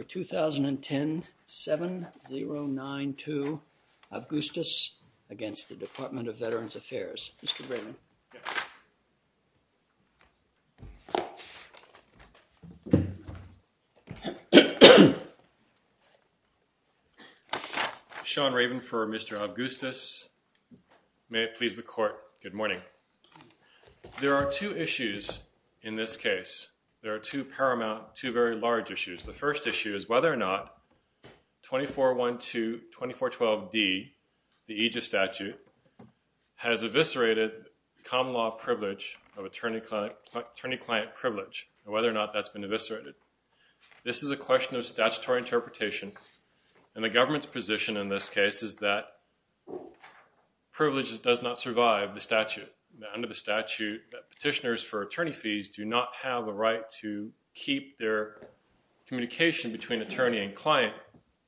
2010-7092 AVGOOSTIS against the Department of Veterans Affairs Mr. Raven Sean Raven for Mr. AVGOOSTIS May it please the court, good morning. There are two issues in this case. There are two paramount, two very large issues. The first issue is whether or not 24.1 to 24.12d the Aegis Statute has eviscerated common law privilege of attorney-client privilege and whether or not that's been eviscerated. This is a question of statutory interpretation and the government's position in this case is that privilege does not survive the statute. Under the statute, petitioners for attorney fees do not have the right to keep their communication between attorney and client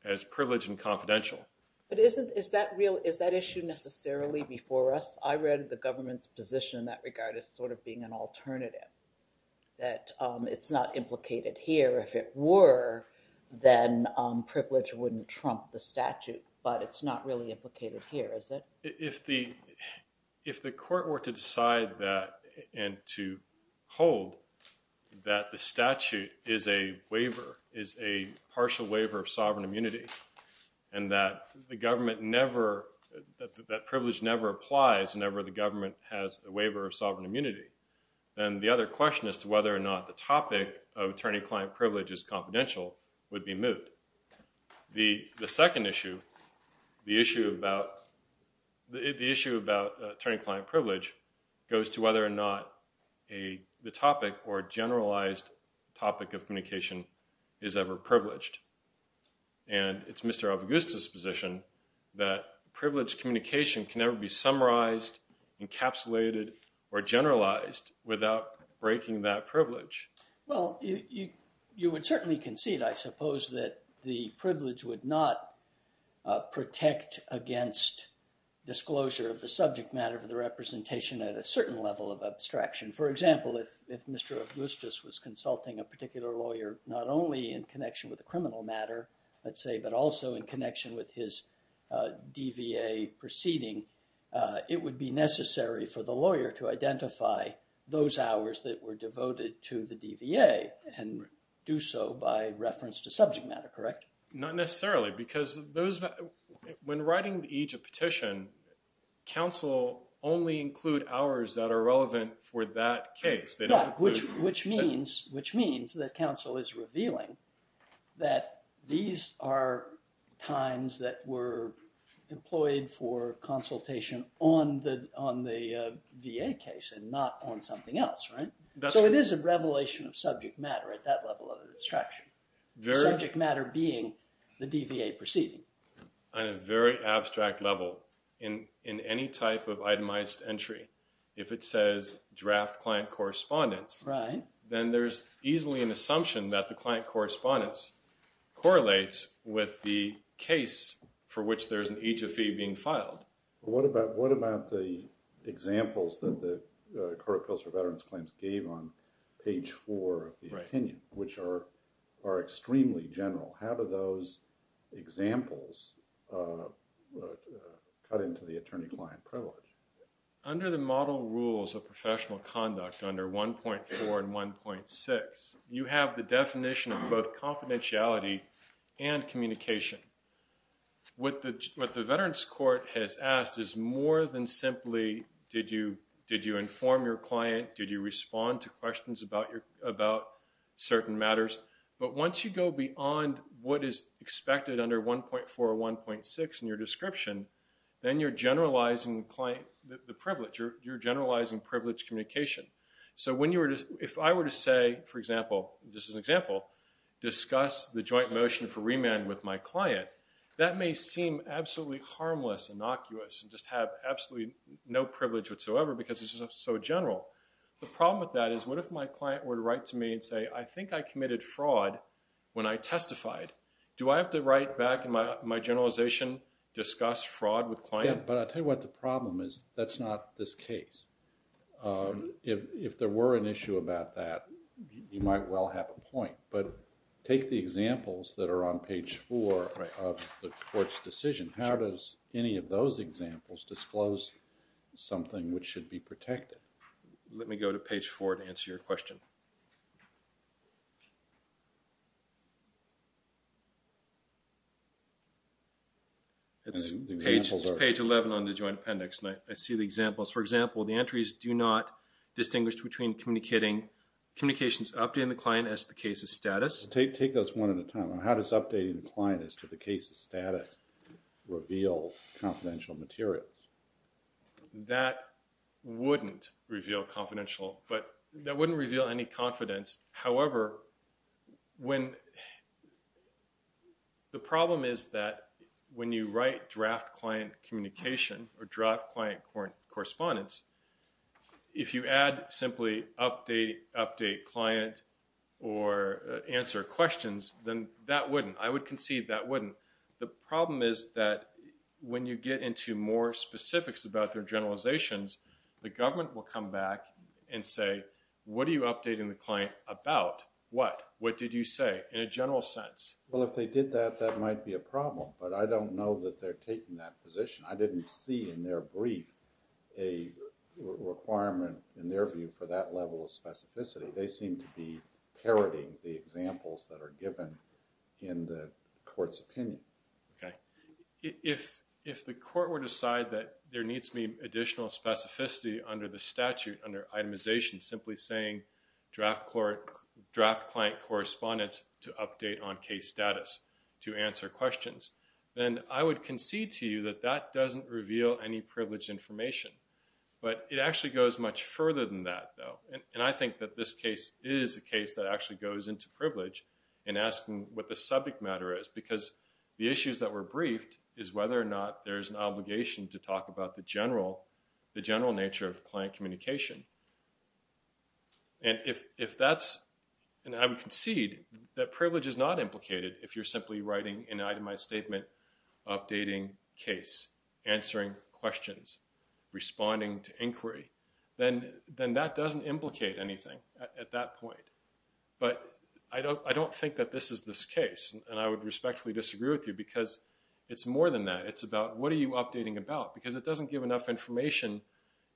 as privileged and confidential. But is that issue necessarily before us? I read the government's position in that regard as sort of being an alternative. That it's not implicated here. If it were, then privilege wouldn't trump the statute. But it's not really implicated here, is it? If the court were to decide that and to hold that the statute is a waiver, is a partial waiver of sovereign immunity and that the government never, that privilege never applies whenever the government has a waiver of sovereign immunity, then the other question as to whether or not the topic of attorney-client privilege is confidential would be moved. The second issue, the issue about the issue about attorney-client privilege goes to whether or not the topic or generalized topic of communication is ever privileged. And it's Mr. Augusta's position that privileged communication can never be summarized, encapsulated, or generalized without breaking that privilege. Well, you would certainly concede, I suppose, that the privilege would not protect against disclosure of the subject matter for the representation at a certain level of abstraction. For example, if Mr. Augustus was consulting a particular lawyer, not only in connection with the criminal matter, let's say, but also in connection with his DVA proceeding, it would be necessary for the lawyer to identify those hours that were devoted to the DVA and do so by reference to subject matter, correct? Not necessarily, because when writing each petition, counsel only include hours that are relevant for that case. Which means that counsel is revealing that these are times that were employed for consultation on the VA case and not on something else, right? So it is a revelation of subject matter at that level of abstraction. Subject matter being the DVA proceeding. On a very abstract level, in any type of itemized entry, if it says draft client correspondence, then there's easily an assumption that the client correspondence correlates with the case for which there's an EJFE being filed. What about the examples that the current appeals for veterans claims gave on page 4 of the opinion, which are extremely general? How do those examples cut into the attorney-client privilege? Under the model rules of professional conduct under 1.4 and 1.6, you have the definition of both confidentiality and communication. What the veterans court has asked is more than simply, did you inform your client? Did you respond to questions about certain matters? But once you go beyond what is expected under 1.4 or 1.6 in your description, then you're generalizing the privilege. You're generalizing privilege communication. So if I were to say, for example, this is an example, discuss the joint motion for remand with my client, that may seem absolutely harmless, innocuous, and just have absolutely no privilege whatsoever because it's just so general. The problem with that is, what if my client were to write to me and say, I think I committed fraud when I testified. Do I have to write back in my generalization, discuss fraud with client? But I'll tell you what the problem is, that's not this case. If there were an issue about that, you might well have a point. But take the examples that are on page four of the court's decision. How does any of those examples disclose something which should be protected? Let me go to page four to answer your question. It's page 11 on the joint appendix, and I see the examples. For example, the entries do not distinguish between communicating, communications updating the client as to the case's status. Take those one at a time. How does updating the client as to the case's status reveal confidential materials? That wouldn't reveal confidential, but that wouldn't reveal any confidence. However, the problem is that when you write draft client communication, or draft client correspondence, if you add simply update, update client, or answer questions, then that wouldn't. I would concede that wouldn't. The problem is that when you get into more specifics about their generalizations, the government will come back and say, what are you updating the client about? What? What did you say in a general sense? Well, if they did that, that might be a problem. But I don't know that they're taking that position. I didn't see in their brief a requirement, in their view, for that level of specificity. They seem to be parroting the examples that are given in the court's opinion. Okay. If the court were to decide that there needs to be additional specificity under the statute, under itemization, simply saying draft client correspondence to update on case status to answer questions, then I would concede to you that that doesn't reveal any privileged information. But it actually goes much further than that, though. And I think that this case is a case that actually goes into privilege in asking what the subject matter is. Because the issues that were briefed is whether or not there's an obligation to talk about the general, the general nature of client communication. And if that's, and I would concede that privilege is not implicated if you're simply writing an itemized statement updating case, answering questions, responding to inquiry, then that doesn't implicate anything at that point. But I don't think that this is this case. And I would respectfully disagree with you because it's more than that. It's about what are you updating about? Because it doesn't give enough information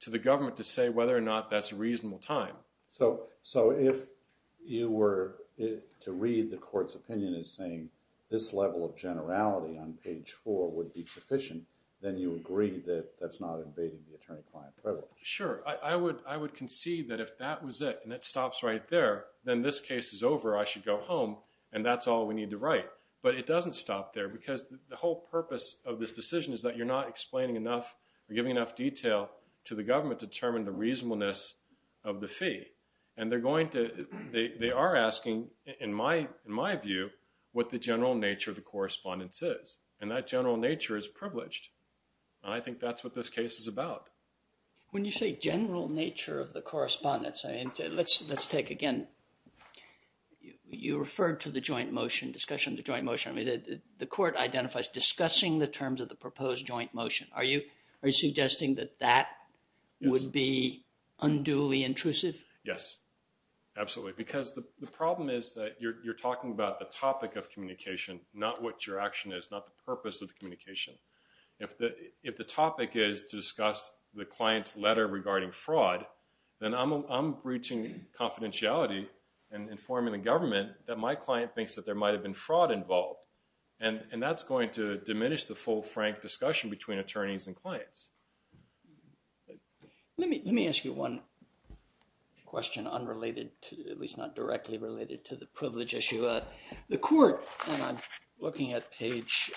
to the government to say whether or not that's a reasonable time. So if you were to read the court's opinion as saying this level of generality on page 4 would be sufficient, then you agree that that's not invading the attorney-client privilege. Sure. I would concede that if that was it and it stops right there, then this case is over, I should go home, and that's all we need to write. But it doesn't stop there because the whole purpose of this decision is that you're not explaining enough or giving enough detail to the government to determine the reasonableness of the fee. And they're going to, they are asking, in my view, what the general nature of the correspondence is. And that general nature is privileged. And I think that's what this case is about. When you say general nature of the correspondence, let's take again, you referred to the joint motion, discussion of the joint motion. The court identifies discussing the terms of the proposed joint motion. Are you suggesting that that would be unduly intrusive? Yes. Absolutely. Because the problem is that you're talking about the topic of communication, not what your action is, not the purpose of the communication. If the topic is to discuss the client's letter regarding fraud, then I'm breaching confidentiality and informing the government that my client thinks that there might have been fraud involved. And that's going to diminish the full, frank discussion between attorneys and clients. Let me ask you one question unrelated to, at least not directly related to the privilege issue. The court, and I'm looking at page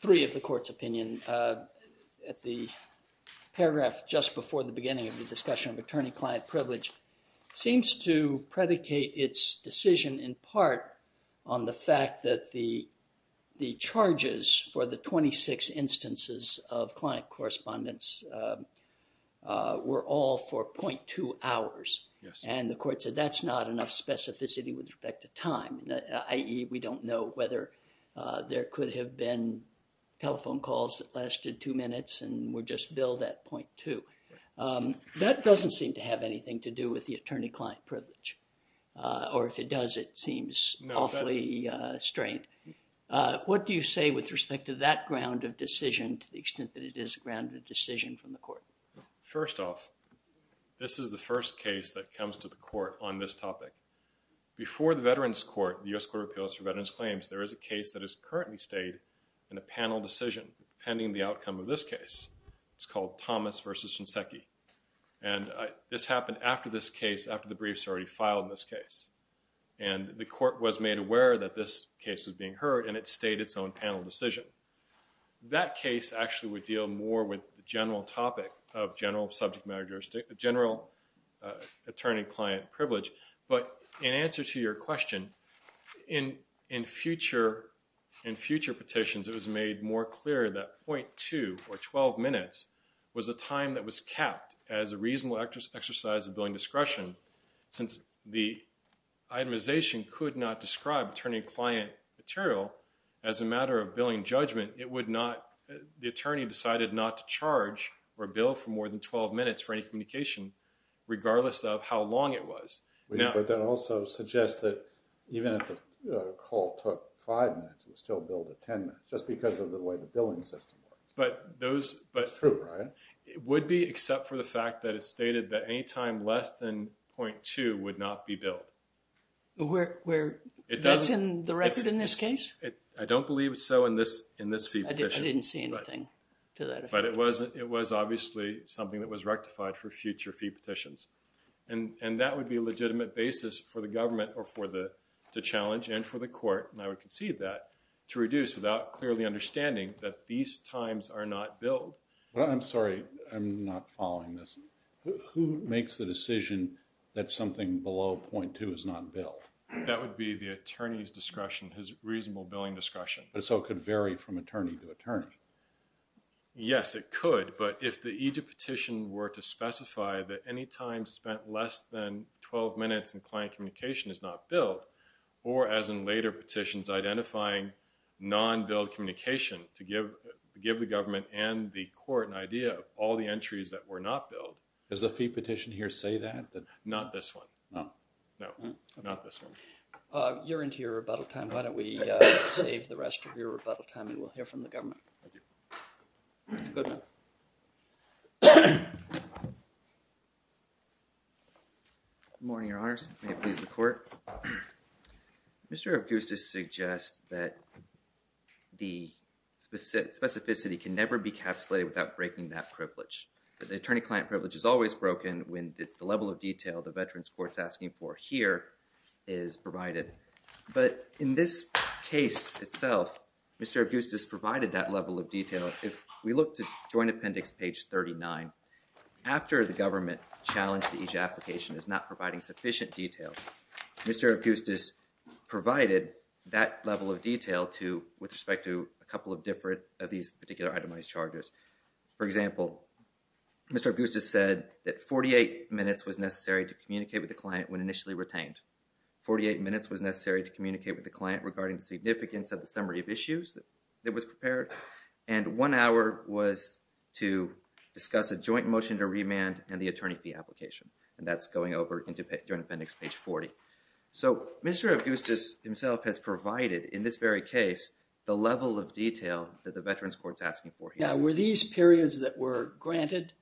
three of the court's opinion, at the paragraph just before the beginning of the discussion of attorney-client privilege, seems to predicate its decision in part on the fact that the charges for the 26 instances of client correspondence were all for 0.2 hours. And the court said that's not enough specificity with respect to time, i.e. we don't know whether there could have been telephone calls that lasted two minutes and were just billed at 0.2. That doesn't seem to have anything to do with the attorney-client privilege. Or if it does, it seems awfully strained. What do you say with respect to that ground of decision to the extent that it is a grounded decision from the court? First off, this is the first case that comes to the court on this topic. Before the Veterans Court, the U.S. Court of Appeals for Veterans Claims, there is a case that has currently stayed in a panel decision pending the outcome of this case. It's called Thomas v. Shinseki. And this happened after this case, after the briefs were already filed in this case. And the court was made aware that this case was being heard, and it stayed its own panel decision. That case actually would deal more with the general topic of general subject matter jurisdiction, general attorney-client privilege. But in answer to your question, in future petitions, it was made more clear that 0.2 or 12 minutes was a time that was capped as a reasonable exercise of billing discretion. Since the itemization could not describe attorney-client material as a matter of billing judgment, it would not, the attorney decided not to charge or bill for more than 12 minutes for any communication, regardless of how long it was. But that also suggests that even if the call took 5 minutes, it would still bill for 10 minutes, just because of the way the billing system works. But those... It's true, right? It would be, except for the fact that it stated that any time less than 0.2 would not be billed. Where, where, that's in the record in this case? I don't believe so in this, in this fee petition. I didn't see anything to that effect. But it was, it was obviously something that was rectified for future fee petitions. And, and that would be a legitimate basis for the government or for the, to challenge and for the court, and I would concede that, to reduce without clearly understanding that these times are not billed. Well, I'm sorry. I'm not following this. Who makes the decision that something below 0.2 is not billed? That would be the attorney's discretion, his reasonable billing discretion. So it could vary from attorney to attorney? Yes, it could. But if the EJIT petition were to specify that any time spent less than 12 minutes in client communication is not billed, or as in later petitions, identifying non-billed communication to give, give the government and the court an idea of all the entries that were not billed. Does the fee petition here say that? Not this one. No. No. Not this one. You're into your rebuttal time. Why don't we save the rest of your rebuttal time and we'll hear from the government. Thank you. Good morning, your honors. May it please the court. Mr. Augustus suggests that the specificity can never be capsulated without breaking that privilege. The attorney-client privilege is always broken when the level of detail the veteran's court's asking for here is provided. But in this case itself, Mr. Augustus provided that level of detail. If we look to joint appendix page 39, after the government challenged the EJIT application as not providing sufficient detail, Mr. Augustus provided that level of detail to, with respect to a couple of different, of these particular itemized charges. For example, Mr. Augustus said that 48 minutes was necessary to communicate with the client when initially retained. 48 minutes was necessary to communicate with the client regarding the significance of the summary of issues that was prepared. And one hour was to discuss a joint motion to remand and the attorney fee application. And that's going over into joint appendix page 40. So, Mr. Augustus himself has provided, in this very case, the level of detail that the veteran's court's asking for here. Now, were these periods that were granted?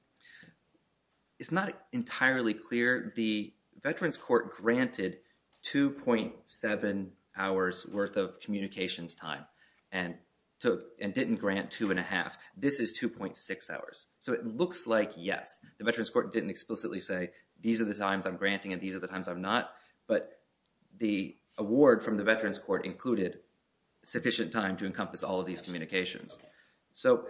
It's not entirely clear. The veteran's court granted 2.7 hours worth of communications time and didn't grant two and a half. This is 2.6 hours. So, it looks like, yes, the veteran's court didn't explicitly say, these are the times I'm granting and these are the times I'm not. But the award from the veteran's court included sufficient time to encompass all of these communications. So,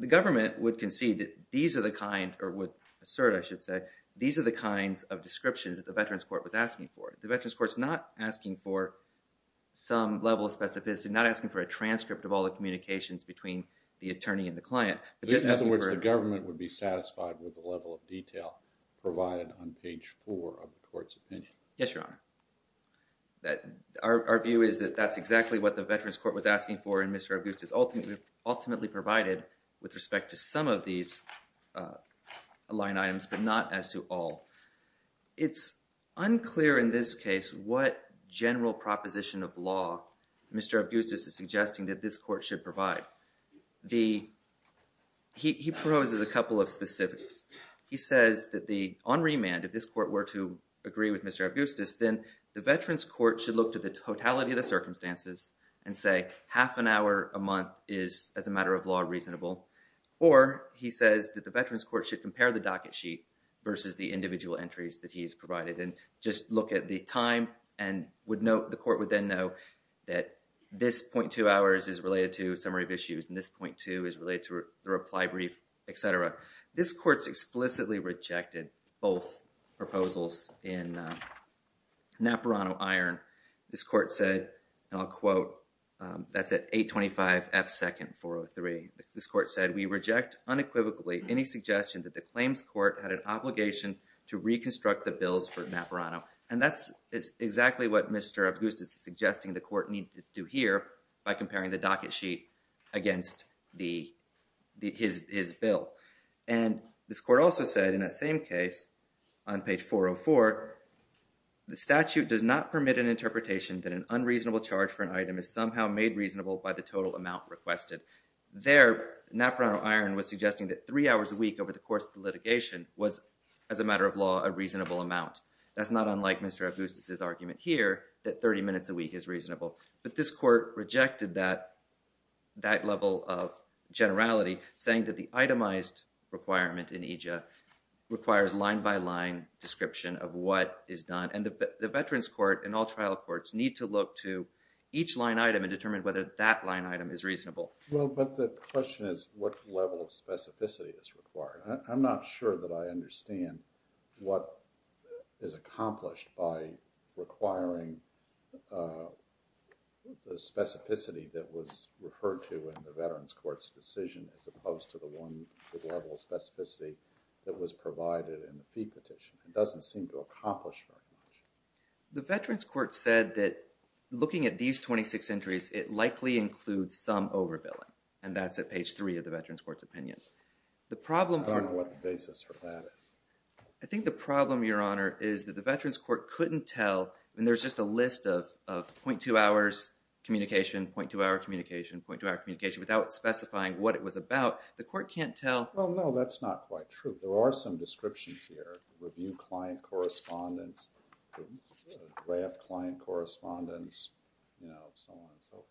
the government would concede that these are the kind, or would assert, or I should say, these are the kinds of descriptions that the veteran's court was asking for. The veteran's court's not asking for some level of specificity, not asking for a transcript of all the communications between the attorney and the client. In other words, the government would be satisfied with the level of detail provided on page four of the court's opinion. Yes, Your Honor. Our view is that that's exactly what the veteran's court was asking for and Mr. Augustus ultimately provided with respect to some of these line items, but not as to all. It's unclear in this case what general proposition of law Mr. Augustus is suggesting that this court should provide. He proposes a couple of specifics. He says that on remand, if this court were to agree with Mr. Augustus, then the veteran's court should look to the totality of the circumstances and say half an hour a month is, as a matter of law, reasonable. Or he says that the veteran's court should compare the docket sheet versus the individual entries that he's provided and just look at the time and would note, the court would then know that this .2 hours is related to a summary of issues and this .2 is related to the reply brief, etc. This court's explicitly rejected both proposals in Napurano-Iron. This court said, and I'll quote, that's at 825 F second 403. This court said, we reject unequivocally any suggestion that the claims court had an obligation to reconstruct the bills for Napurano. And that's exactly what Mr. Augustus is suggesting the court need to do here by comparing the docket sheet against his bill. And this court also said, in that same case, on page 404, the statute does not permit an interpretation that an unreasonable charge for an item is somehow made reasonable by the total amount requested. There, Napurano-Iron was suggesting that three hours a week over the course of the litigation was, as a matter of law, a reasonable amount. That's not unlike Mr. Augustus' argument here that 30 minutes a week is reasonable. But this court rejected that level of generality, saying that the itemized requirement in EJIA requires line-by-line description of what is done. And the veterans court and all trial courts need to look to each line item and determine whether that line item is reasonable. Well, but the question is, what level of specificity is required? I'm not sure that I understand what is accomplished by requiring the specificity that was referred to in the veterans court's decision as opposed to the one with level of specificity that was provided in the fee petition. It doesn't seem to accomplish very much. The veterans court said that looking at these 26 entries, it likely includes some overbilling. And that's at page 3 of the veterans court's opinion. I don't know what the basis for that is. I think the problem, Your Honor, is that the veterans court couldn't tell. And there's just a list of 0.2 hours communication, 0.2 hour communication, 0.2 hour communication, without specifying what it was about. The court can't tell. Well, no, that's not quite true. There are some descriptions here. Review client correspondence, draft client correspondence, you know, so on and so forth.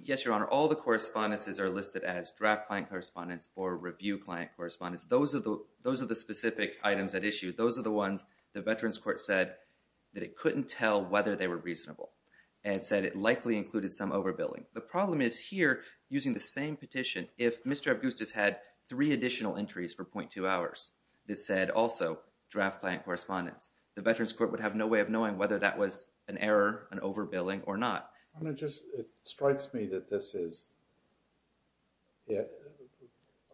Yes, Your Honor, all the correspondences are listed as draft client correspondence or review client correspondence. Those are the specific items at issue. Those are the ones the veterans court said that it couldn't tell whether they were reasonable and said it likely included some overbilling. The problem is here, using the same petition, if Mr. Augustus had three additional entries for 0.2 hours, it said also draft client correspondence. The veterans court would have no way of knowing whether that was an error, an overbilling or not. Your Honor, it just, it strikes me that this is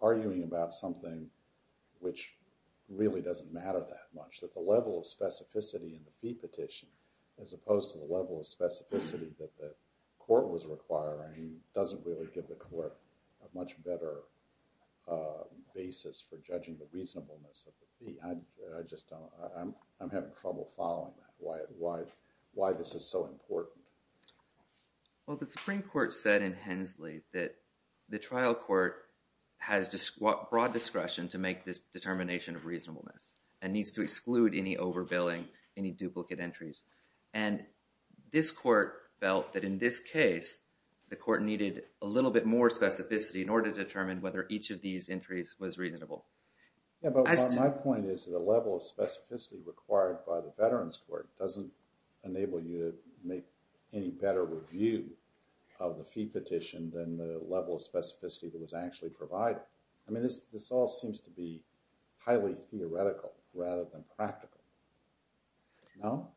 arguing about something which really doesn't matter that much, that the level of specificity in the fee petition, as opposed to the level of specificity that the court was requiring, doesn't really give the court a much better basis for judging the reasonableness of the fee. I just don't, I'm having trouble following that, why this is so important. Well, the Supreme Court said in Hensley that the trial court has broad discretion to make this determination of reasonableness and needs to exclude any overbilling, any duplicate entries. And this court felt that in this case, the court needed a little bit more specificity in order to determine whether each of these entries was reasonable. Yeah, but my point is that the level of specificity required by the veterans court doesn't enable you to make any better review of the fee petition than the level of specificity that was actually provided. I mean, this all seems to be highly theoretical rather than practical. No?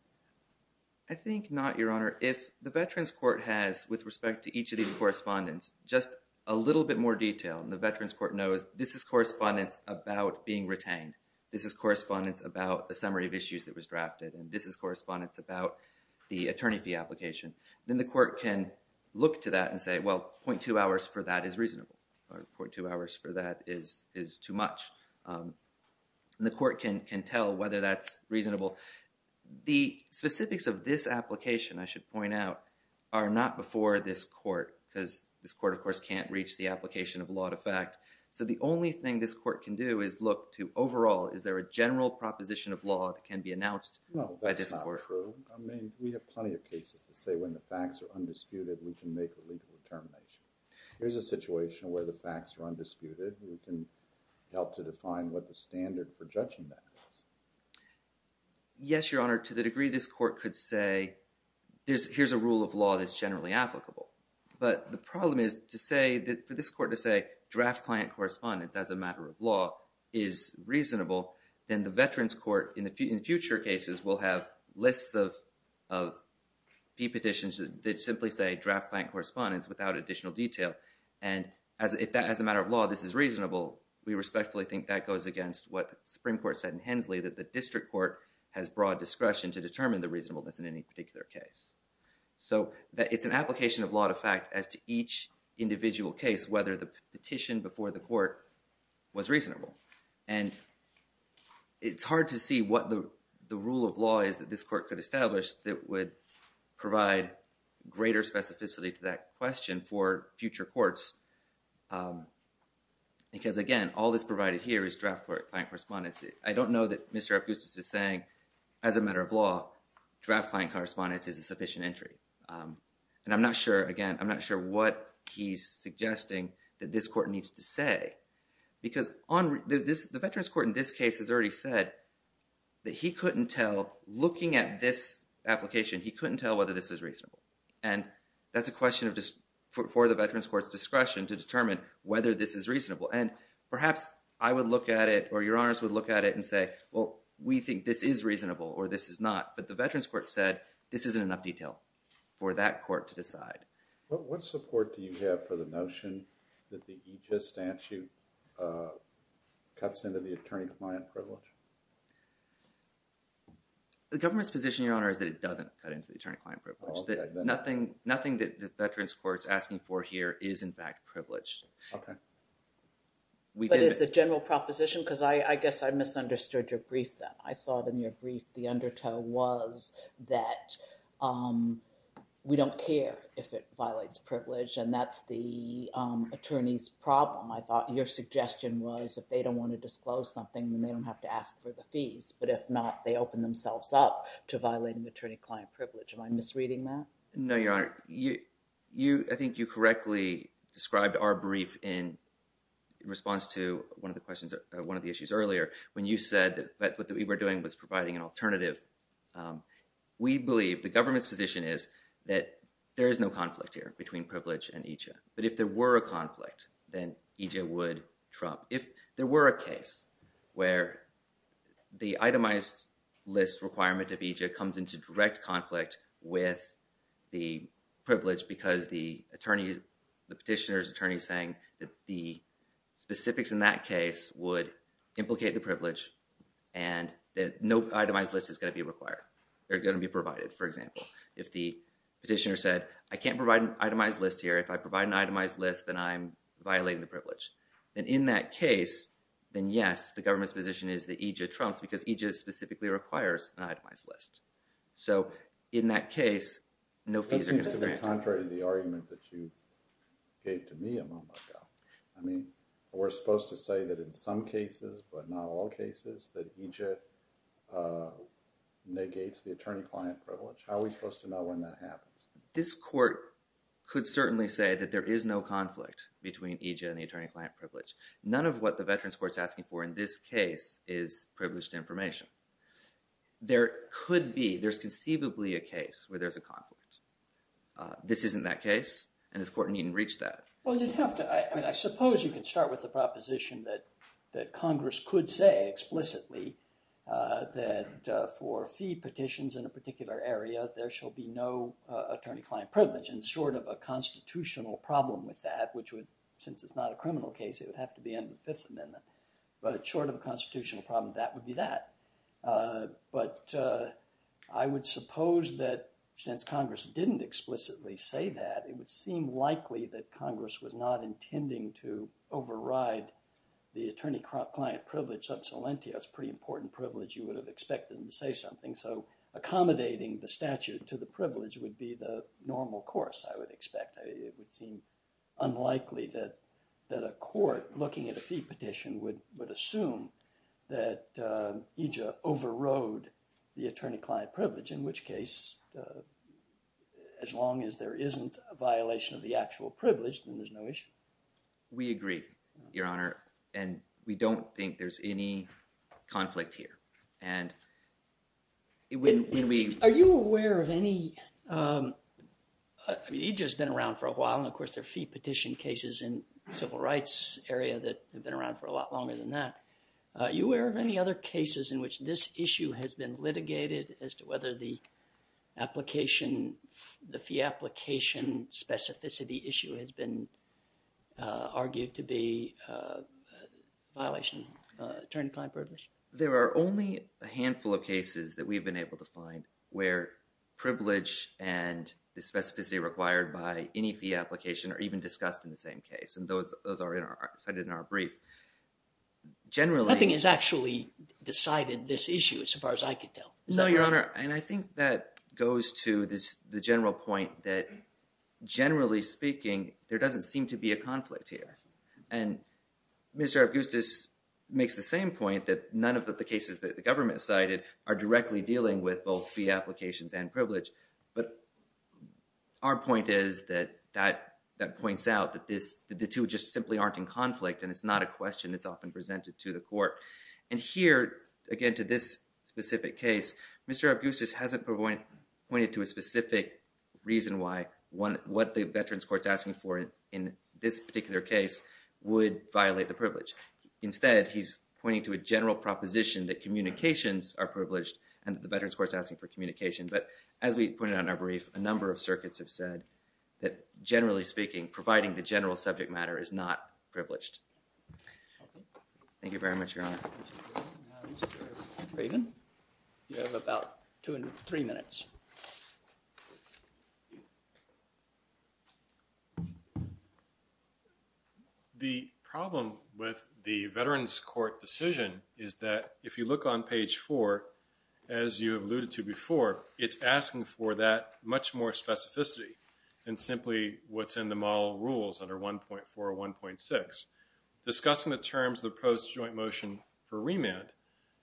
I think not, Your Honor. If the veterans court has, with respect to each of these correspondence, just a little bit more detail, and the veterans court knows this is correspondence about being retained, this is correspondence about the summary of issues that was drafted, and this is correspondence about the attorney fee application, then the court can look to that and say, well, 0.2 hours for that is reasonable, or 0.2 hours for that is too much. And the court can tell whether that's reasonable. The specifics of this application, I should point out, are not before this court because this court, of course, can't reach the application of law to fact. So the only thing this court can do is look to overall, is there a general proposition of law that can be announced by this court? No, that's not true. I mean, we have plenty of cases that say when the facts are undisputed, we can make a legal determination. Here's a situation where the facts are undisputed. We can help to define what the standard for judging that is. Yes, Your Honor, to the degree this court could say, here's a rule of law that's generally applicable. But the problem is to say, for this court to say, draft client correspondence as a matter of law is reasonable, then the veterans court, in future cases, will have lists of fee petitions that simply say draft client correspondence without additional detail. And as a matter of law, this is reasonable. We respectfully think that goes against what the Supreme Court said in Hensley, that the district court has broad discretion to determine the reasonableness in any particular case. So it's an application of law to fact as to each individual case, whether the petition before the court was reasonable. And it's hard to see what the rule of law is that this court could establish that would provide greater specificity to that question for future courts. Because, again, all that's provided here is draft client correspondence. I don't know that Mr. Epgustis is saying, as a matter of law, draft client correspondence is a sufficient entry. And I'm not sure, again, I'm not sure what he's suggesting that this court needs to say. Because the veterans court in this case has already said that he couldn't tell, looking at this application, he couldn't tell whether this was reasonable. And that's a question for the veterans court's discretion to determine whether this is reasonable. And perhaps I would look at it, or your honors would look at it and say, well, we think this is reasonable, or this is not. But the veterans court said, this isn't enough detail for that court to decide. What support do you have for the notion that the EJIS statute cuts into the attorney-client privilege? The government's position, your honor, is that it doesn't cut into the attorney-client privilege. Nothing that the veterans court's asking for here is, in fact, privileged. But it's a general proposition? Because I guess I misunderstood your brief then. I thought in your brief the undertow was that we don't care if it violates privilege, and that's the attorney's problem. I thought your suggestion was if they don't want to disclose something, then they don't have to ask for the fees. But if not, they open themselves up to violating attorney-client privilege. Am I misreading that? No, your honor. I think you correctly described our brief in response to one of the questions, one of the issues earlier, when you said that what we were doing was providing an alternative. We believe, the government's position is, that there is no conflict here between privilege and EJ. But if there were a conflict, then EJ would trump. If there were a case where the itemized list requirement of EJ comes into direct conflict with the privilege because the attorney, the petitioner's attorney is saying that the specifics in that case would implicate the privilege and that no itemized list is going to be required. They're going to be provided, for example. If the petitioner said, I can't provide an itemized list here. If I provide an itemized list, then I'm violating the privilege. And in that case, then yes, the government's position is that EJ trumps because EJ specifically requires an itemized list. So in that case, no fees are going to be granted. Contrary to the argument that you gave to me a moment ago, I mean, we're supposed to say that in some cases, but not all cases, that EJ negates the attorney-client privilege. How are we supposed to know when that happens? This court could certainly say that there is no conflict between EJ and the attorney-client privilege. None of what the Veterans Court's asking for in this case is privileged information. There could be, there's conceivably a case where there's a conflict. This isn't that case, and this court needn't reach that. Well, you'd have to, I suppose you could start with the proposition that Congress could say explicitly that for fee petitions in a particular area, there shall be no attorney-client privilege. And sort of a constitutional problem with that, which would, since it's not a criminal case, it would have to be under the Fifth Amendment. But short of a constitutional problem, that would be that. But I would suppose that since Congress didn't explicitly say that, it would seem likely that Congress was not intending to override the attorney-client privilege sub salientia. That's a pretty important privilege. You would have expected them to say something. So accommodating the statute to the privilege would be the normal course, I would expect. It would seem unlikely that a court looking at a fee petition would assume that EJA overrode the attorney-client privilege, in which case as long as there isn't a violation of the actual privilege, then there's no issue. We agree, Your Honor. And we don't think there's any conflict here. And when we... Are you aware of any... I mean, EJA's been around for a while, and of course there are fee petition cases in the civil rights area that have been around for a lot longer than that. Are you aware of any other cases in which this issue has been litigated as to whether the fee application specificity issue has been argued to be a violation of attorney-client privilege? There are only a handful of cases that we've been able to find where privilege and the specificity required by any fee application are even discussed in the same case. And those are cited in our brief. Generally... Nothing has actually decided this issue, as far as I can tell. No, Your Honor, and I think that goes to the general point that generally speaking, there doesn't seem to be a conflict here. And Mr. Augustus makes the same point that none of the cases that the government cited are directly dealing with both fee applications and privilege. But our point is that that points out that the two just simply aren't in conflict, and it's not a question that's often presented to the court. And here, again, to this specific case, Mr. Augustus hasn't pointed to a specific reason why what the Veterans Court's asking for in this particular case would violate the privilege. Instead, he's pointing to a general proposition that communications are privileged and that the Veterans Court's asking for communication. But as we pointed out in our brief, a number of circuits have said that generally speaking, providing the general subject matter is not privileged. Thank you very much, Your Honor. Mr. Raven, you have about two and three minutes. The problem with the Veterans Court decision is that if you look on page four, as you alluded to before, it's asking for that much more specificity than simply what's in the model rules under 1.4 or 1.6. Discussing the terms of the post-joint motion for remand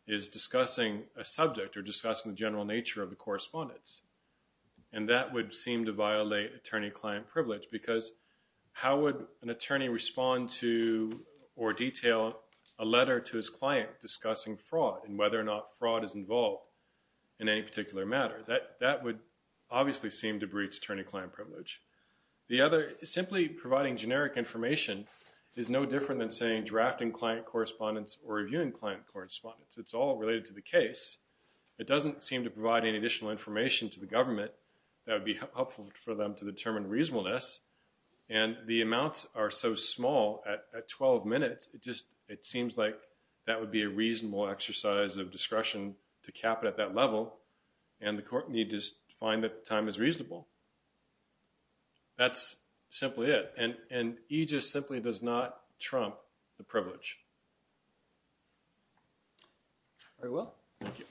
is discussing a subject or discussing the general nature of the correspondence. And that would seem to violate attorney-client privilege because how would an attorney respond to or detail a letter to his client discussing fraud and whether or not fraud is involved in any particular matter? That would obviously seem to breach attorney-client privilege. Simply providing generic information is no different than saying drafting client correspondence or reviewing client correspondence. It's all related to the case. It doesn't seem to provide any additional information to the government that would be helpful for them to determine reasonableness. And the amounts are so small at 12 minutes, it seems like that would be a reasonable exercise of discretion to cap it at that level, and the court need to find that the time is reasonable. That's simply it. And EGIS simply does not trump the privilege. Very well. Thank you.